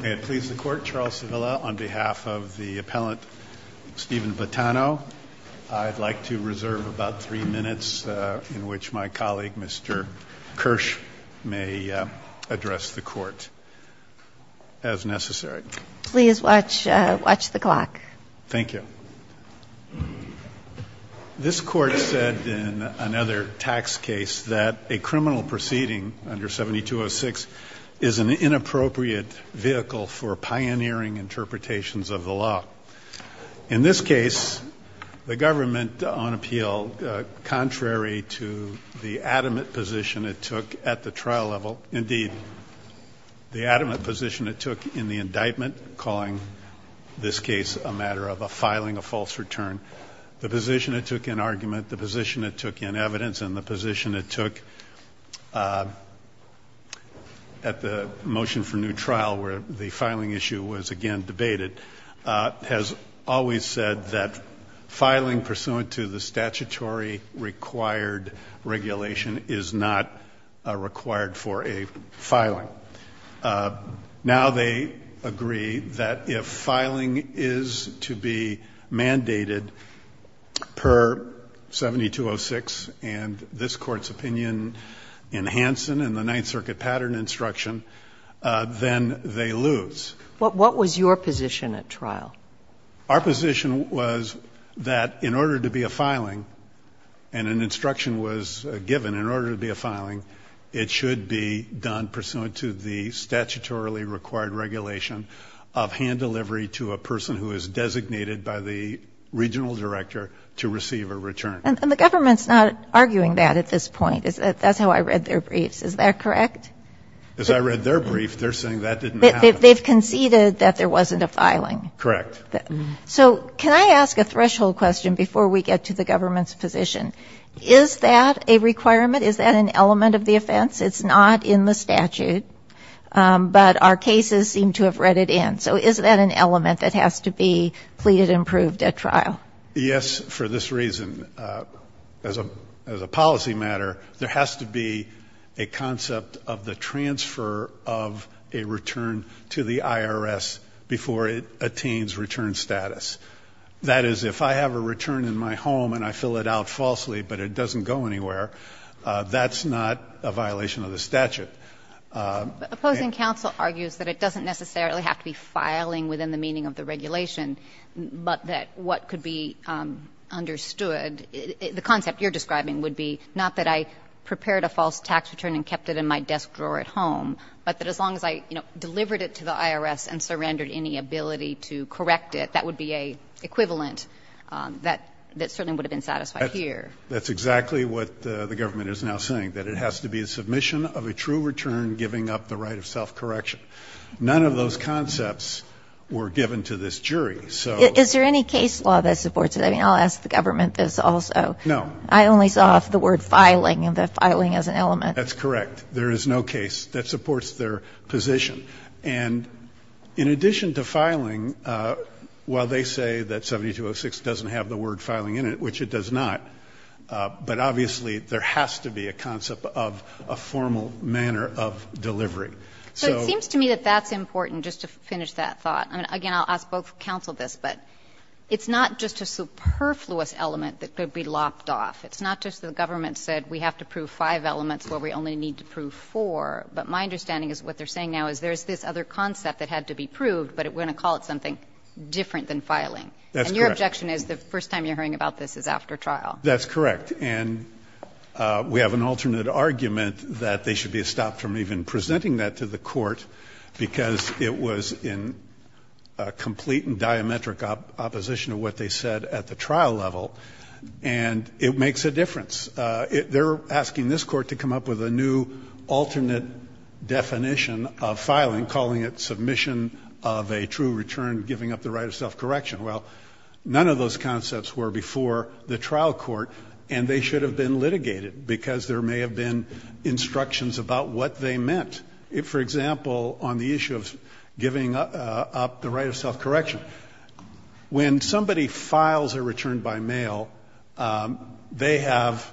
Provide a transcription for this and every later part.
May it please the Court, Charles Sevilla on behalf of the appellant Steven Boitano. I'd like to reserve about three minutes in which my colleague Mr. Kirsch may address the Court as necessary. Please watch the clock. Thank you. This Court said in another tax case that a criminal proceeding under 7206 is an inappropriate vehicle for pioneering interpretations of the law. In this case, the government on appeal, contrary to the adamant position it took at the trial level, indeed, the adamant position it took in the indictment calling this case a matter of a filing of false return, the position it took in argument, the position it took in evidence, and the position it took at the motion for new trial where the filing issue was again debated, has always said that filing pursuant to the statutory required regulation is not required for a filing. Now they agree that if filing is to be mandated per 7206 and this Court's opinion in Hansen and the Ninth Circuit pattern instruction, then they lose. What was your position at trial? Our position was that in order to be a filing, and an instruction was given in order to be a filing, it should be done pursuant to the statutorily required regulation of hand delivery to a person who is designated by the regional director to receive a return. And the government's not arguing that at this point. That's how I read their briefs. Is that correct? As I read their brief, they're saying that didn't happen. They've conceded that there wasn't a filing. Correct. So can I ask a threshold question before we get to the government's position? Is that a requirement? Is that an element of the offense? It's not in the statute, but our cases seem to have read it in. So is that an element that has to be pleaded and proved at trial? Yes, for this reason. As a policy matter, there has to be a concept of the transfer of a return to the IRS before it attains return status. That is, if I have a return in my home and I fill it out falsely but it doesn't go anywhere, that's not a violation of the statute. Opposing counsel argues that it doesn't necessarily have to be filing within the meaning of the regulation, but that what could be understood, the concept you're describing would be not that I prepared a false tax return and kept it in my desk drawer at home, but that as long as I, you know, delivered it to the IRS and surrendered any ability to correct it, that would be an equivalent that certainly would have been satisfied here. That's exactly what the government is now saying, that it has to be a submission of a true return giving up the right of self-correction. None of those concepts were given to this jury, so. Is there any case law that supports it? I mean, I'll ask the government this also. No. I only saw the word filing and the filing as an element. That's correct. There is no case that supports their position. And in addition to filing, while they say that 7206 doesn't have the word filing in it, which it does not, but obviously there has to be a concept of a formal manner of delivery. So it seems to me that that's important, just to finish that thought. I mean, again, I'll ask both counsel this, but it's not just a superfluous element that could be lopped off. It's not just the government said we have to prove five elements where we only need to prove four, but my understanding is what they're saying now is there's this other concept that had to be proved, but we're going to call it something different than filing. That's correct. And your objection is the first time you're hearing about this is after trial. That's correct. And we have an alternate argument that they should be stopped from even presenting that to the court because it was in complete and diametric opposition to what they said at the trial level, and it makes a difference. They're asking this Court to come up with a new alternate definition of filing, calling it submission of a true return, giving up the right of self-correction. Well, none of those concepts were before the trial court, and they should have been litigated because there may have been instructions about what they meant. If, for example, on the issue of giving up the right of self-correction, when somebody files a return by mail, they have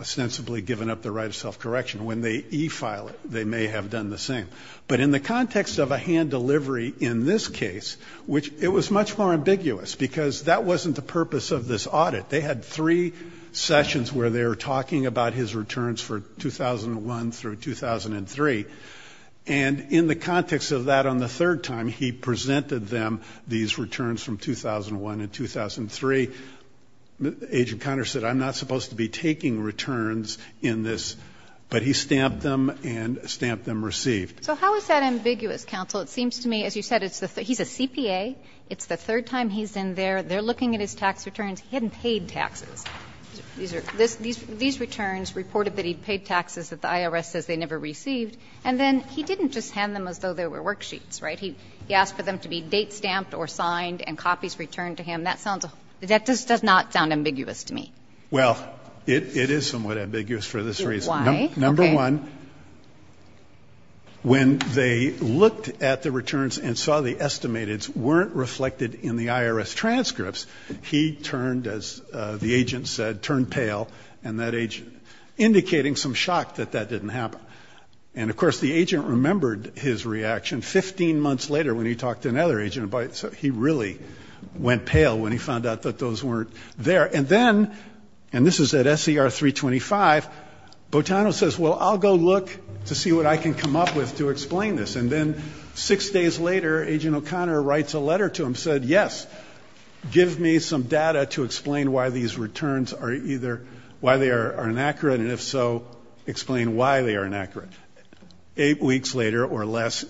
ostensibly given up the right of self-correction. When they e-file it, they may have done the same. But in the context of a hand delivery in this case, which it was much more ambiguous because that wasn't the purpose of this audit. They had three sessions where they were talking about his returns for 2001 through 2003, and in the context of that on the third time, he presented them these returns from 2001 and 2003. Agent Conner said, I'm not supposed to be taking returns in this, but he stamped them and stamped them received. So how is that ambiguous, counsel? It seems to me, as you said, he's a CPA. It's the third time he's in there. They're looking at his tax returns. He hadn't paid taxes. These returns reported that he paid taxes that the IRS says they never received, and then he didn't just hand them as though they were worksheets, right? He asked for them to be date-stamped or signed and copies returned to him. That does not sound ambiguous to me. Well, it is somewhat ambiguous for this reason. Why? Okay. One, when they looked at the returns and saw the estimated weren't reflected in the IRS transcripts, he turned, as the agent said, turned pale, and that agent, indicating some shock that that didn't happen. And, of course, the agent remembered his reaction 15 months later when he talked to another agent about it. So he really went pale when he found out that those weren't there. And then, and this is at SCR 325, Botano says, well, I'll go look to see what I can come up with to explain this. And then six days later, agent O'Connor writes a letter to him, said, yes, give me some data to explain why these returns are either, why they are inaccurate, and if so, explain why they are inaccurate. Eight weeks later or less,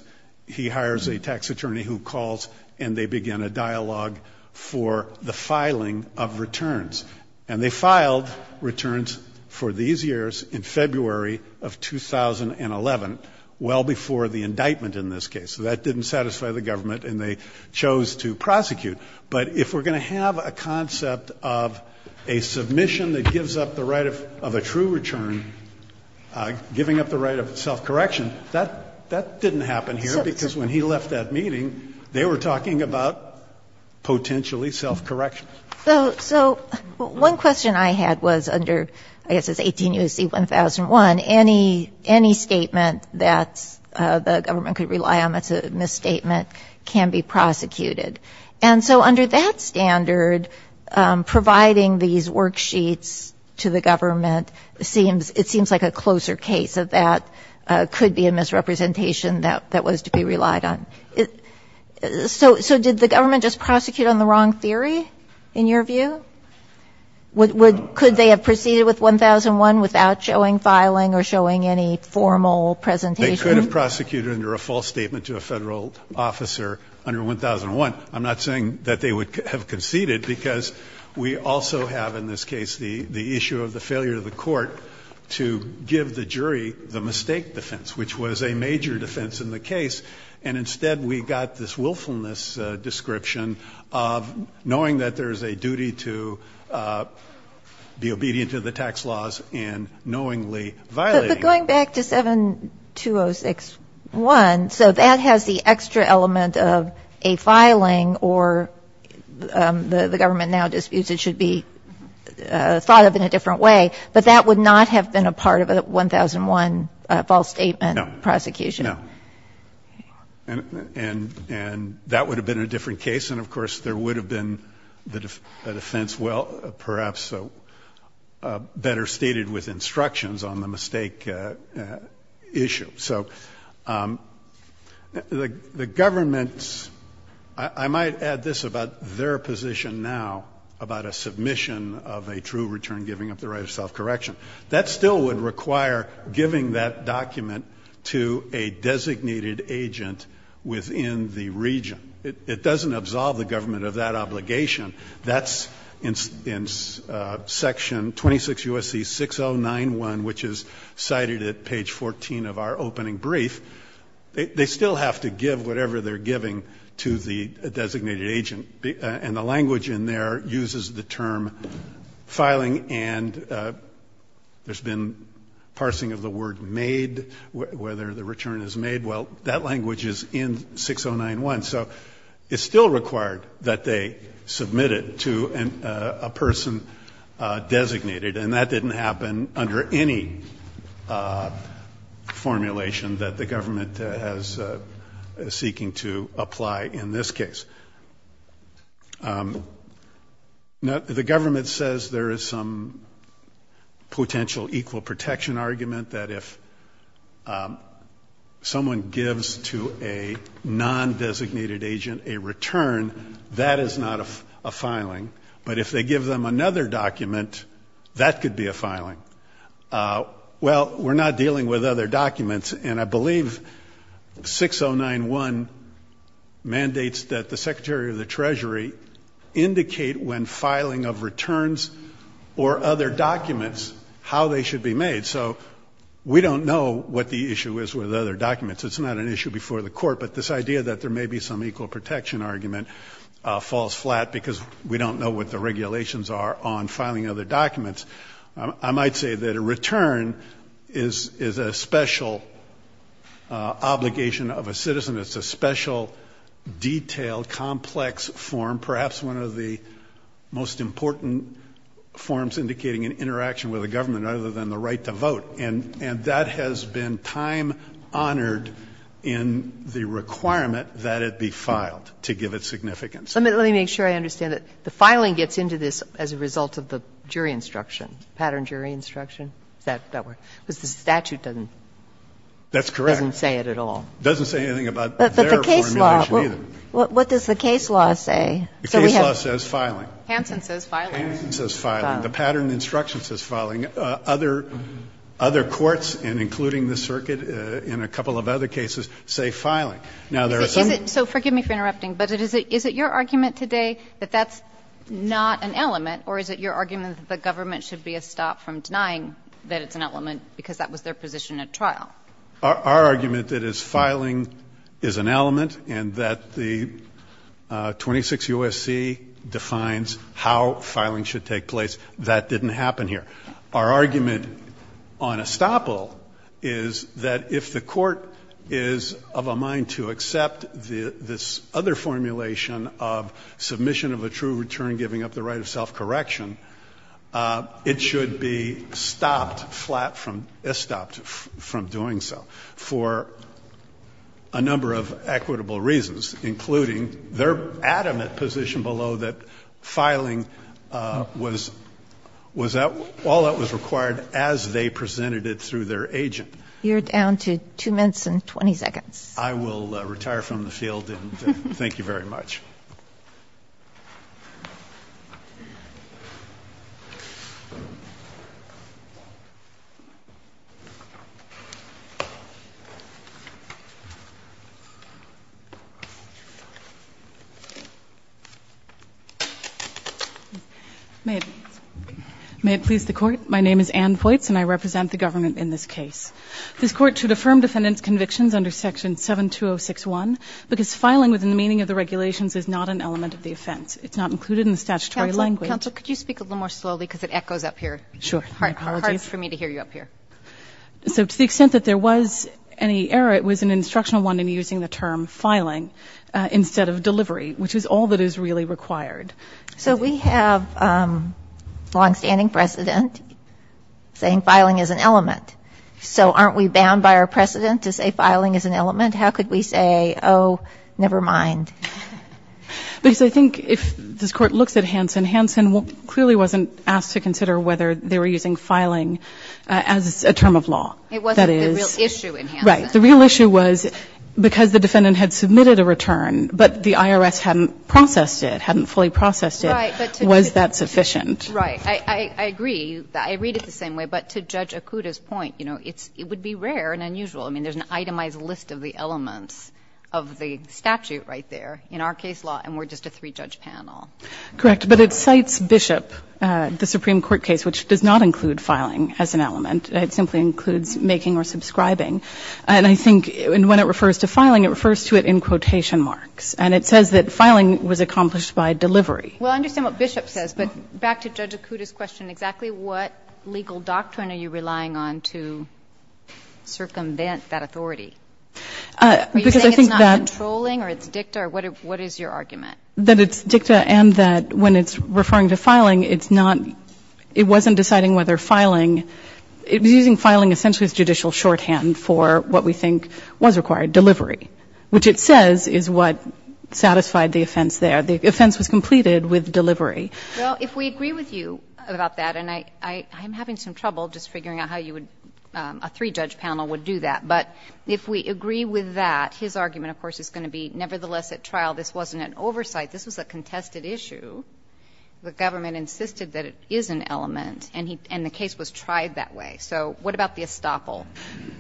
he hires a tax attorney who calls, and they begin a dialogue for the filing of returns. And they filed returns for these years in February of 2011, well before the indictment in this case. So that didn't satisfy the government, and they chose to prosecute. But if we're going to have a concept of a submission that gives up the right of a true return, giving up the right of self-correction, that didn't happen here, because when he left that meeting, they were talking about potentially self-correction. So one question I had was under, I guess it's 18 U.S.C. 1001, any statement that the government could rely on that's a misstatement can be prosecuted. And so under that standard, providing these worksheets to the government seems, it seems like a closer case of that could be a misrepresentation that was to be relied on. So did the government just prosecute on the wrong theory, in your view? Could they have proceeded with 1001 without showing filing or showing any formal presentation? They could have prosecuted under a false statement to a Federal officer under 1001. I'm not saying that they would have conceded, because we also have in this case the issue of the failure of the court to give the jury the mistake defense, which was a major defense in the case. And instead we got this willfulness description of knowing that there is a duty to be obedient to the tax laws and knowingly violating them. But going back to 7206.1, so that has the extra element of a filing or the government now disputes it should be thought of in a different way. But that would not have been a part of a 1001 false statement prosecution. No. And that would have been a different case. And, of course, there would have been a defense, well, perhaps better stated with instructions on the mistake issue. So the government's, I might add this about their position now about a submission of a true return giving up the right of self-correction. That still would require giving that document to a designated agent within the region. It doesn't absolve the government of that obligation. That's in section 26 U.S.C. 6091, which is cited at page 14 of our opening brief. They still have to give whatever they're giving to the designated agent. And the language in there uses the term filing and there's been parsing of the word made, whether the return is made. Well, that language is in 6091. So it's still required that they submit it to a person designated. And that didn't happen under any formulation that the government is seeking to apply in this case. The government says there is some potential equal protection argument that if someone gives to a non-designated agent a return, that is not a filing. But if they give them another document, that could be a filing. Well, we're not dealing with other documents, and I believe 6091 mandates that the Secretary of the Treasury indicate when filing of returns or other documents how they should be made. So we don't know what the issue is with other documents. It's not an issue before the Court. But this idea that there may be some equal protection argument falls flat because we don't know what the regulations are on filing other documents. I might say that a return is a special obligation of a citizen. It's a special, detailed, complex form, perhaps one of the most important forms indicating an interaction with a government other than the right to vote. And that has been time honored in the requirement that it be filed to give it significance. Let me make sure I understand it. The filing gets into this as a result of the jury instruction, pattern jury instruction? Is that the word? Because the statute doesn't say it at all. That's correct. It doesn't say anything about their formulation either. But the case law, what does the case law say? The case law says filing. Hansen says filing. Hansen says filing. The pattern instruction says filing. Other courts, and including the circuit in a couple of other cases, say filing. Now, there are some. So forgive me for interrupting, but is it your argument today that that's not an element, or is it your argument that the government should be a stop from denying that it's an element because that was their position at trial? Our argument that is filing is an element and that the 26 U.S.C. defines how filing should take place. That didn't happen here. Our argument on estoppel is that if the court is of a mind to accept this other formulation of submission of a true return giving up the right of self-correction, it should be stopped flat from, estopped from doing so for a number of equitable reasons, including their adamant position below that filing was all that was required as they presented it through their agent. You're down to 2 minutes and 20 seconds. I will retire from the field, and thank you very much. May it please the court. My name is Ann Voights, and I represent the government in this case. This court should affirm defendant's convictions under section 72061 because filing within the meaning of the regulations is not an element of the offense. It's not included in the statutory language. Counsel, could you speak a little more slowly because it echoes up here? Sure. My apologies. It's hard for me to hear you up here. So to the extent that there was any error, it was an instructional one in using the term filing instead of delivery, which is all that is really required. So we have a longstanding precedent saying filing is an element. So aren't we bound by our precedent to say filing is an element? How could we say, oh, never mind? Because I think if this Court looks at Hansen, Hansen clearly wasn't asked to consider whether they were using filing as a term of law. It wasn't the real issue in Hansen. Right. The real issue was because the defendant had submitted a return, but the IRS hadn't processed it, hadn't fully processed it. Right. Was that sufficient? Right. I agree. I read it the same way. But to Judge Okuda's point, you know, it would be rare and unusual. I mean, there's an itemized list of the elements of the statute right there in our case law, and we're just a three-judge panel. Correct. But it cites Bishop, the Supreme Court case, which does not include filing as an element. It simply includes making or subscribing. And I think when it refers to filing, it refers to it in quotation marks. And it says that filing was accomplished by delivery. Well, I understand what Bishop says, but back to Judge Okuda's question, exactly what legal doctrine are you relying on to circumvent that authority? Because I think that — Are you saying it's not controlling or it's dicta, or what is your argument? That it's dicta and that when it's referring to filing, it's not — it wasn't deciding whether filing — it was using filing essentially as judicial shorthand for what we think was required, delivery, which it says is what satisfied the offense there. The offense was completed with delivery. Well, if we agree with you about that, and I'm having some trouble just figuring out how you would — a three-judge panel would do that. But if we agree with that, his argument, of course, is going to be nevertheless at trial this wasn't an oversight, this was a contested issue. The government insisted that it is an element, and the case was tried that way. So what about the estoppel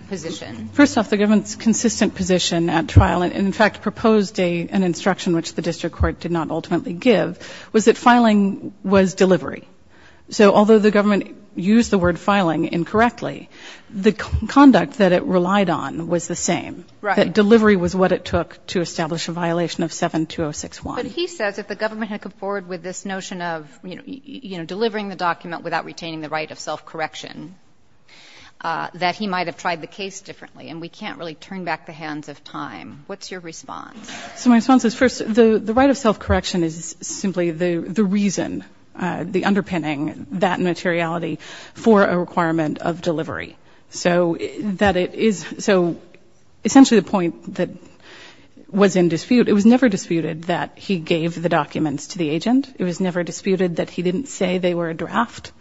position? First off, the government's consistent position at trial, and in fact proposed an instruction which the district court did not ultimately give, was that filing was delivery. So although the government used the word filing incorrectly, the conduct that it relied on was the same. Right. That delivery was what it took to establish a violation of 7-206-1. But he says if the government had come forward with this notion of, you know, delivering the document without retaining the right of self-correction, that he might have tried the case differently. And we can't really turn back the hands of time. What's your response? So my response is, first, the right of self-correction is simply the reason, the underpinning that materiality for a requirement of delivery. So that it is so essentially the point that was in dispute. It was never disputed that he gave the documents to the agent. It was never disputed that he didn't say they were a draft.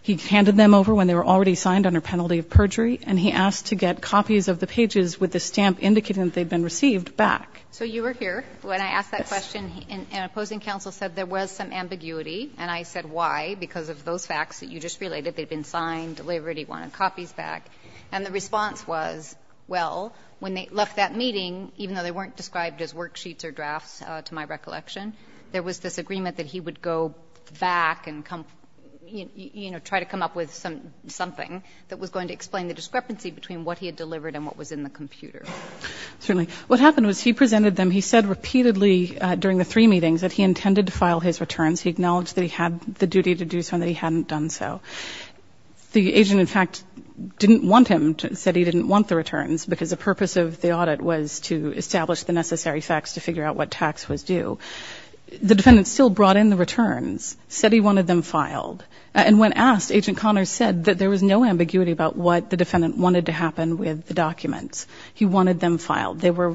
He handed them over when they were already signed under penalty of perjury, and he asked to get copies of the pages with the stamp indicating that they had been received back. So you were here when I asked that question, and an opposing counsel said there was some ambiguity, and I said why, because of those facts that you just related. They had been signed, delivered, he wanted copies back. And the response was, well, when they left that meeting, even though they weren't described as worksheets or drafts, to my recollection, there was this agreement that he would go back and come, you know, try to come up with something that was going to explain the discrepancy between what he had delivered and what was in the computer. Certainly. What happened was he presented them. He said repeatedly during the three meetings that he intended to file his returns. He acknowledged that he had the duty to do so and that he hadn't done so. The agent, in fact, didn't want him, said he didn't want the returns because the purpose of the audit was to establish the necessary facts to figure out what tax was due. The defendant still brought in the returns, said he wanted them filed. And when asked, Agent Connors said that there was no ambiguity about what the defendant wanted to happen with the documents. He wanted them filed. They were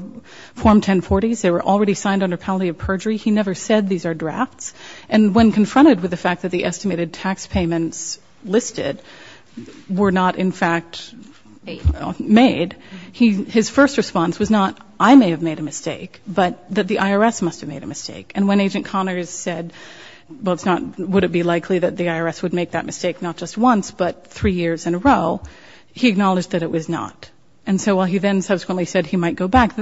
Form 1040s. They were already signed under penalty of perjury. He never said these are drafts. And when confronted with the fact that the estimated tax payments listed were not, in fact, made, his first response was not, I may have made a mistake, but that the IRS must have made a mistake. And when Agent Connors said, well, it's not, would it be likely that the IRS would make that mistake not just once, but three years in a row, he acknowledged that it was not. And so while he then subsequently said he might go back,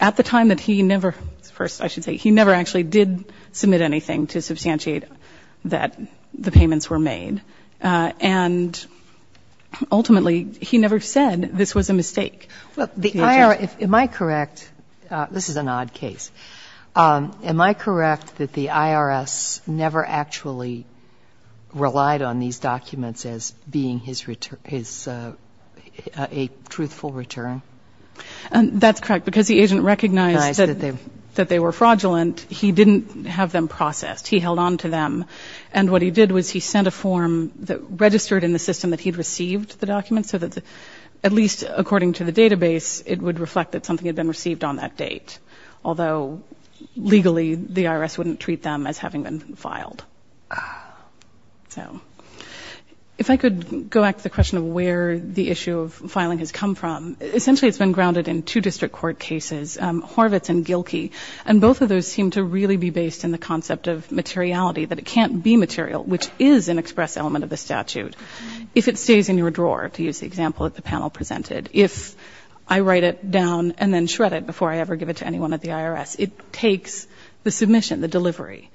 at the time that he never first, I should say, he never actually did submit anything to substantiate that the payments were made. And ultimately, he never said this was a mistake. Well, the IRS, am I correct? This is an odd case. Am I correct that the IRS never actually relied on these documents as being his return a truthful return? That's correct. Because the agent recognized that they were fraudulent, he didn't have them processed. He held on to them. And what he did was he sent a form that registered in the system that he'd received the documents, so that at least according to the database, it would reflect that something had been received on that date. Although, legally, the IRS wouldn't treat them as having been filed. If I could go back to the question of where the issue of filing has come from, essentially it's been grounded in two district court cases, Horvitz and Gilkey. And both of those seem to really be based in the concept of materiality, that it can't be material, which is an express element of the statute. If it stays in your drawer, to use the example that the panel presented, if I write it down and then shred it before I ever give it to anyone at the IRS, it takes the submission, the delivery.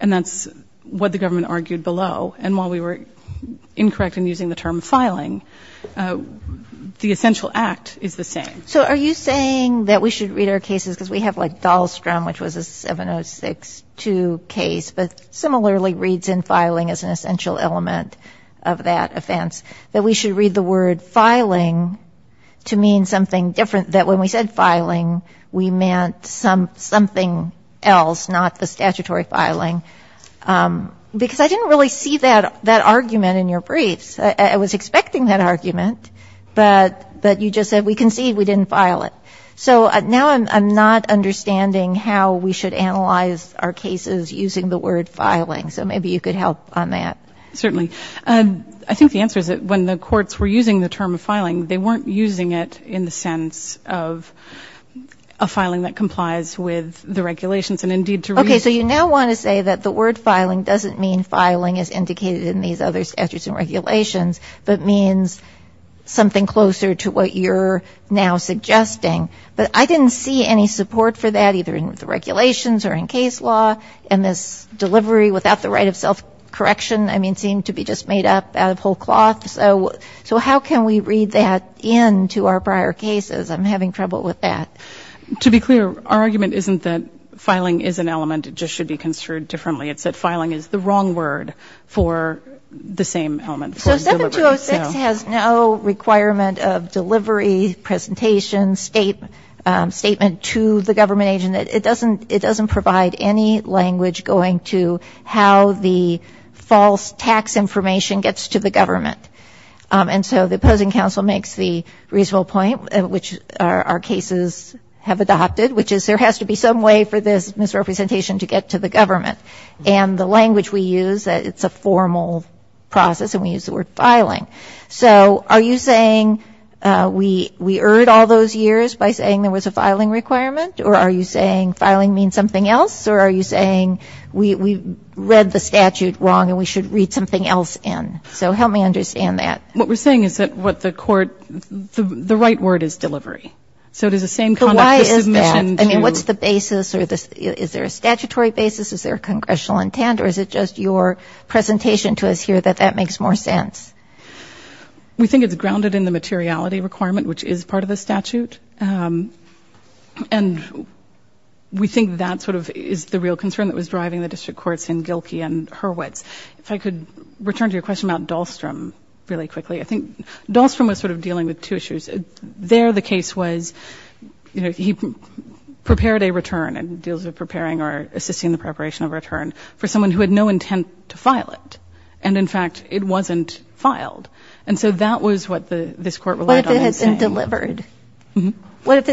And that's what the government argued below. And while we were incorrect in using the term filing, the essential act is the same. So are you saying that we should read our cases, because we have like Dahlstrom, which was a 7062 case, but similarly reads in filing as an essential element of that offense, that we should read the word filing to mean something different, that when we said filing, we meant something else, not the statutory filing? Because I didn't really see that argument in your briefs. I was expecting that argument, but you just said we concede we didn't file it. So now I'm not understanding how we should analyze our cases using the word filing. So maybe you could help on that. Certainly. I think the answer is that when the courts were using the term filing, they weren't using it in the sense of a filing that complies with the regulations, and indeed to read it. Okay. So you now want to say that the word filing doesn't mean filing as indicated in these other statutes and regulations, but means something closer to what you're now suggesting. But I didn't see any support for that, either in the regulations or in case law, and this delivery without the right of self-correction, I mean, seemed to be just made up out of whole cloth. So how can we read that into our prior cases? I'm having trouble with that. To be clear, our argument isn't that filing is an element, it just should be construed differently. It's that filing is the wrong word for the same element. So 7206 has no requirement of delivery, presentation, statement to the government agent. It doesn't provide any language going to how the false tax information gets to the government. And so the opposing counsel makes the reasonable point, which our cases have adopted, which is there has to be some way for this misrepresentation to get to the government. And the language we use, it's a formal process, and we use the word filing. So are you saying we erred all those years by saying there was a filing requirement, or are you saying filing means something else, or are you saying we read the statute wrong and we should read something else in? So help me understand that. What we're saying is that what the court ‑‑ the right word is delivery. So it is the same kind of submission. But why is that? I mean, what's the basis? Is there a statutory basis? Is there a congressional intent? Or is it just your presentation to us here that that makes more sense? We think it's grounded in the materiality requirement, which is part of the statute. And we think that sort of is the real concern that was driving the district courts in Gilkey and Hurwitz. If I could return to your question about Dahlstrom really quickly. I think Dahlstrom was sort of dealing with two issues. There the case was, you know, he prepared a return and deals with preparing or assisting the preparation of a return for someone who had no intent to file it. And, in fact, it wasn't filed. And so that was what this court relied on in saying. What if it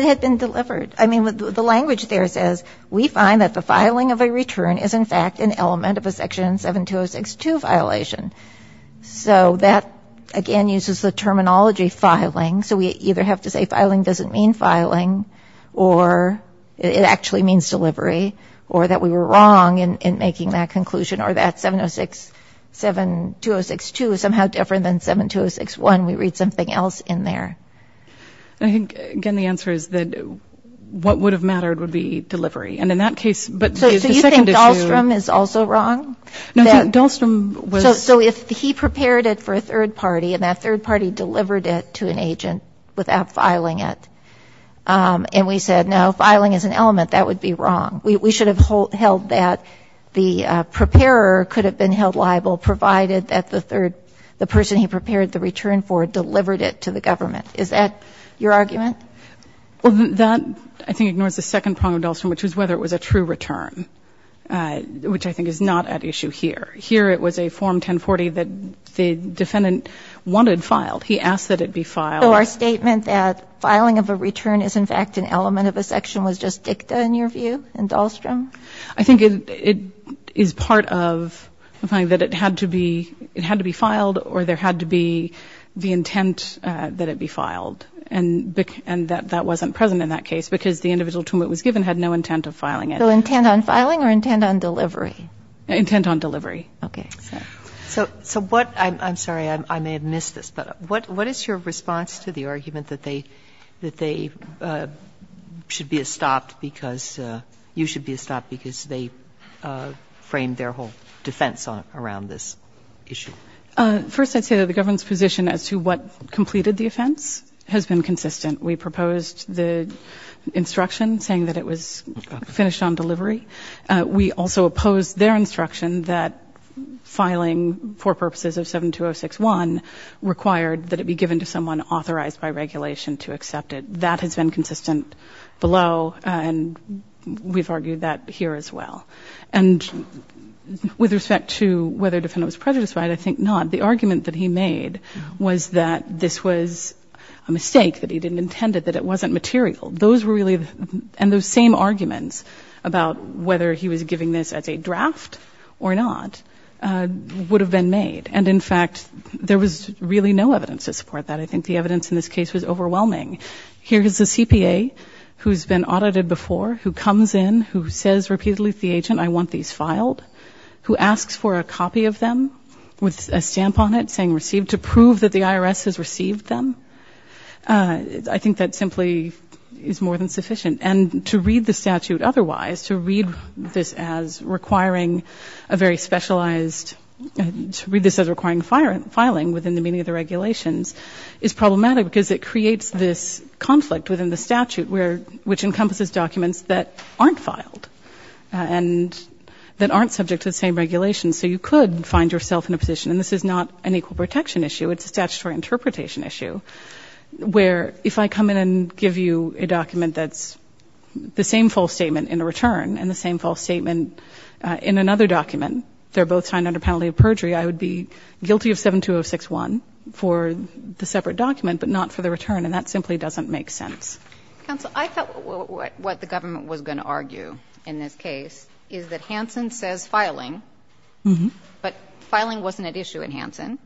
had been delivered? I mean, the language there says, we find that the filing of a return is, in fact, an element of a Section 72062 violation. So that, again, uses the terminology filing. So we either have to say filing doesn't mean filing, or it actually means delivery, or that we were wrong in making that conclusion, or that 70672062 is somehow different than 72061. We read something else in there. I think, again, the answer is that what would have mattered would be delivery. And in that case, but the second issue. So you think Dahlstrom is also wrong? No, I think Dahlstrom was. So if he prepared it for a third party and that third party delivered it to an agent without filing it, and we said, no, filing is an element, that would be wrong. We should have held that the preparer could have been held liable, provided that the third, the person he prepared the return for, delivered it to the government. Is that your argument? Well, that, I think, ignores the second problem of Dahlstrom, which was whether it was a true return, which I think is not at issue here. Here it was a Form 1040 that the defendant wanted filed. He asked that it be filed. So our statement that filing of a return is, in fact, an element of a section was just dicta, in your view, in Dahlstrom? I think it is part of the fact that it had to be filed or there had to be the intent that it be filed. And that wasn't present in that case because the individual to whom it was given had no intent of filing it. So intent on filing or intent on delivery? Intent on delivery. Okay. So what, I'm sorry, I may have missed this, but what is your response to the argument that they, that they should be stopped because, you should be stopped because they framed their whole defense around this issue? First, I'd say that the government's position as to what completed the offense has been consistent. We proposed the instruction saying that it was finished on delivery. We also opposed their instruction that filing for purposes of 72061 required that it be given to someone authorized by regulation to accept it. That has been consistent below, and we've argued that here as well. And with respect to whether the defendant was prejudiced by it, I think not. The argument that he made was that this was a mistake, that he didn't intend it, that it wasn't material. Those were really, and those same arguments about whether he was giving this as a draft or not, would have been made. And, in fact, there was really no evidence to support that. I think the evidence in this case was overwhelming. Here is a CPA who's been audited before, who comes in, who says repeatedly to the agent, I want these filed, who asks for a copy of them with a stamp on it saying received, to prove that the IRS has received them. I think that simply is more than sufficient. And to read the statute otherwise, to read this as requiring a very specialized, to read this as requiring filing within the meaning of the regulations, is problematic because it creates this conflict within the statute which encompasses documents that aren't filed and that aren't subject to the same regulations. So you could find yourself in a position, and this is not an equal protection issue, it's a statutory interpretation issue, where if I come in and give you a document that's the same false statement in a return and the same false statement in another document, they're both signed under penalty of perjury, I would be guilty of 72061 for the separate document, but not for the return, and that simply doesn't make sense. Counsel, I thought what the government was going to argue in this case is that Hansen says filing, but filing wasn't at issue in Hansen,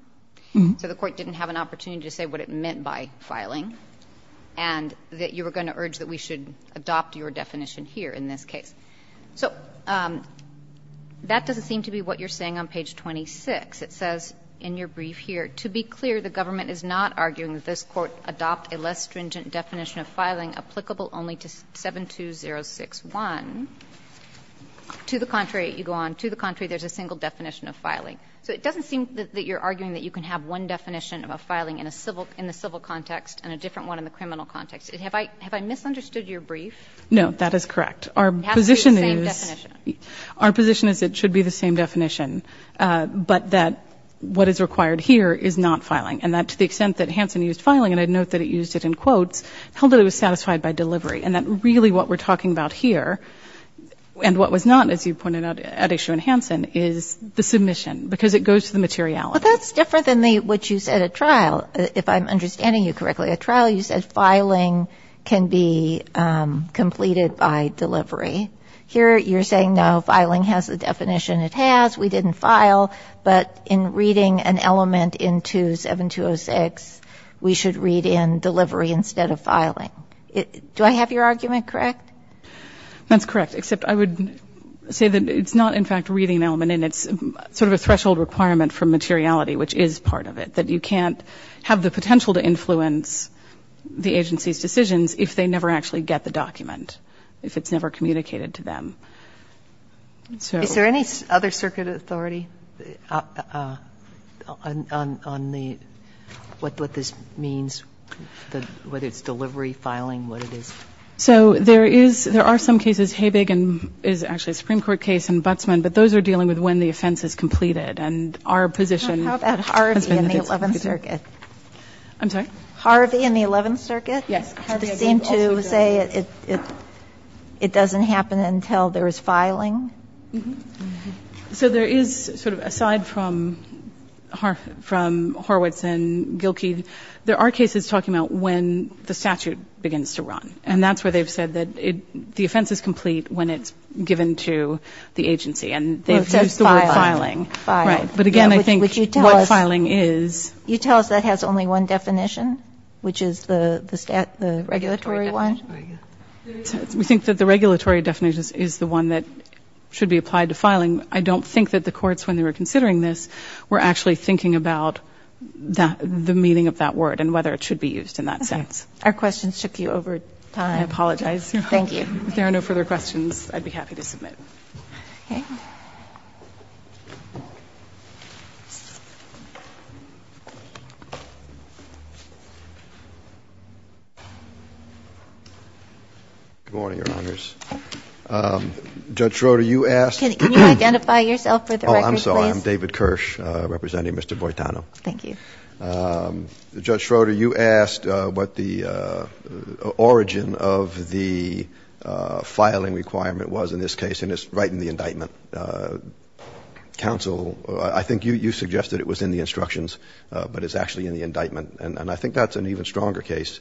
so the Court didn't have an opportunity to say what it meant by filing, and that you were going to urge that we should adopt your definition here in this case. So that doesn't seem to be what you're saying on page 26. It says in your brief here, to be clear, the government is not arguing that this Court adopt a less stringent definition of filing applicable only to 72061. To the contrary, you go on, to the contrary, there's a single definition of filing. So it doesn't seem that you're arguing that you can have one definition of a filing in the civil context and a different one in the criminal context. Have I misunderstood your brief? No, that is correct. It has to be the same definition. Our position is it should be the same definition, but that what is required here is not filing, and that to the extent that Hansen used filing, and I note that it used it in quotes, held that it was satisfied by delivery, and that really what we're talking about here, and what was not, as you pointed out, at issue in Hansen, is the submission, because it goes to the materiality. Well, that's different than what you said at trial. If I'm understanding you correctly, at trial you said filing can be completed by delivery. Here you're saying, no, filing has the definition it has. We didn't file, but in reading an element into 7206, we should read in delivery instead of filing. Do I have your argument correct? That's correct, except I would say that it's not, in fact, reading an element, and it's sort of a threshold requirement for materiality, which is part of it, that you can't have the potential to influence the agency's decisions if they never actually get the document, if it's never communicated to them. Is there any other circuit authority on what this means, whether it's delivery, filing, what it is? So there are some cases, Habig is actually a Supreme Court case and Butzman, but those are dealing with when the offense is completed, and our position has been that it's completed. How about Harvey and the Eleventh Circuit? I'm sorry? Harvey and the Eleventh Circuit? Yes. Harvey and the Eleventh Circuit. They seem to say it doesn't happen until there is filing. So there is sort of, aside from Horowitz and Gilkey, there are cases talking about when the statute begins to run, and that's where they've said that the offense is complete when it's given to the agency, and they've used the word filing. Right. But again, I think what filing is You tell us that has only one definition, which is the regulatory one? We think that the regulatory definition is the one that should be applied to filing. I don't think that the courts, when they were considering this, were actually thinking about the meaning of that word and whether it should be used in that sense. Our questions took you over time. I apologize. Thank you. If there are no further questions, I'd be happy to submit. Okay. Good morning, Your Honors. Judge Schroeder, you asked Can you identify yourself for the record, please? Oh, I'm sorry. I'm David Kirsch, representing Mr. Boitano. Thank you. Judge Schroeder, you asked what the origin of the filing requirement was in this case, and it's right in the indictment. Counsel, I think you suggested it was in the instructions, but it's actually in the indictment. And I think that's an even stronger case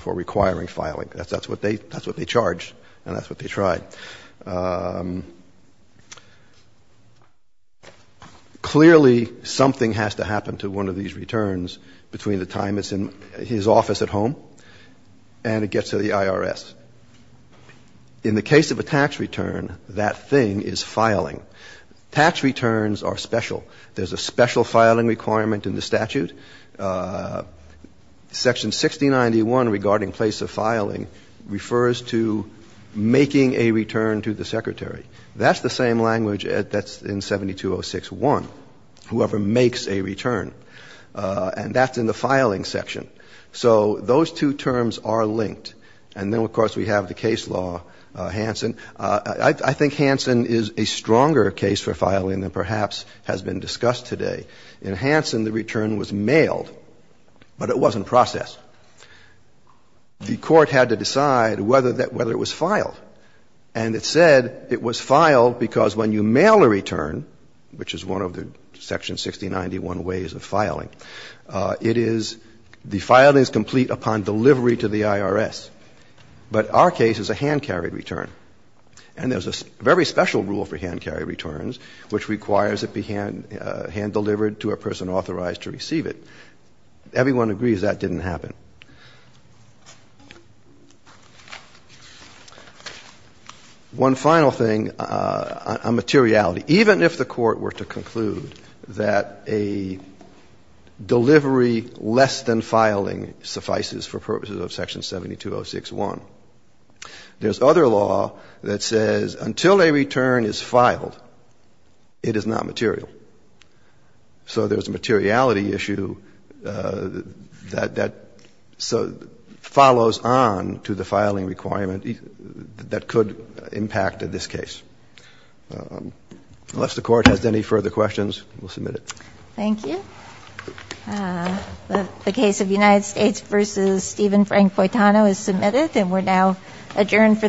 for requiring filing. That's what they charged, and that's what they tried. Clearly, something has to happen to one of these returns between the time it's in his office at home and it gets to the IRS. In the case of a tax return, that thing is filing. Tax returns are special. There's a special filing requirement in the statute. Section 6091 regarding place of filing refers to making a return to the secretary. That's the same language that's in 7206-1, whoever makes a return. And that's in the filing section. So those two terms are linked. And then, of course, we have the case law, Hansen. I think Hansen is a stronger case for filing than perhaps has been discussed today. In Hansen, the return was mailed, but it wasn't processed. The court had to decide whether it was filed. And it said it was filed because when you mail a return, which is one of the section 6091 ways of filing, it is the filing is complete upon delivery to the IRS. But our case is a hand-carried return. And there's a very special rule for hand-carried returns which requires it be hand-delivered to a person authorized to receive it. Everyone agrees that didn't happen. One final thing on materiality. Even if the Court were to conclude that a delivery less than filing suffices for purposes of section 7206-1, there's other law that says until a return is filed, it is not material. So there's a materiality issue that follows on to the filing requirement that could impact this case. Unless the Court has any further questions, we'll submit it. Thank you. The case of United States v. Stephen Frank Foitano is submitted and we're now adjourned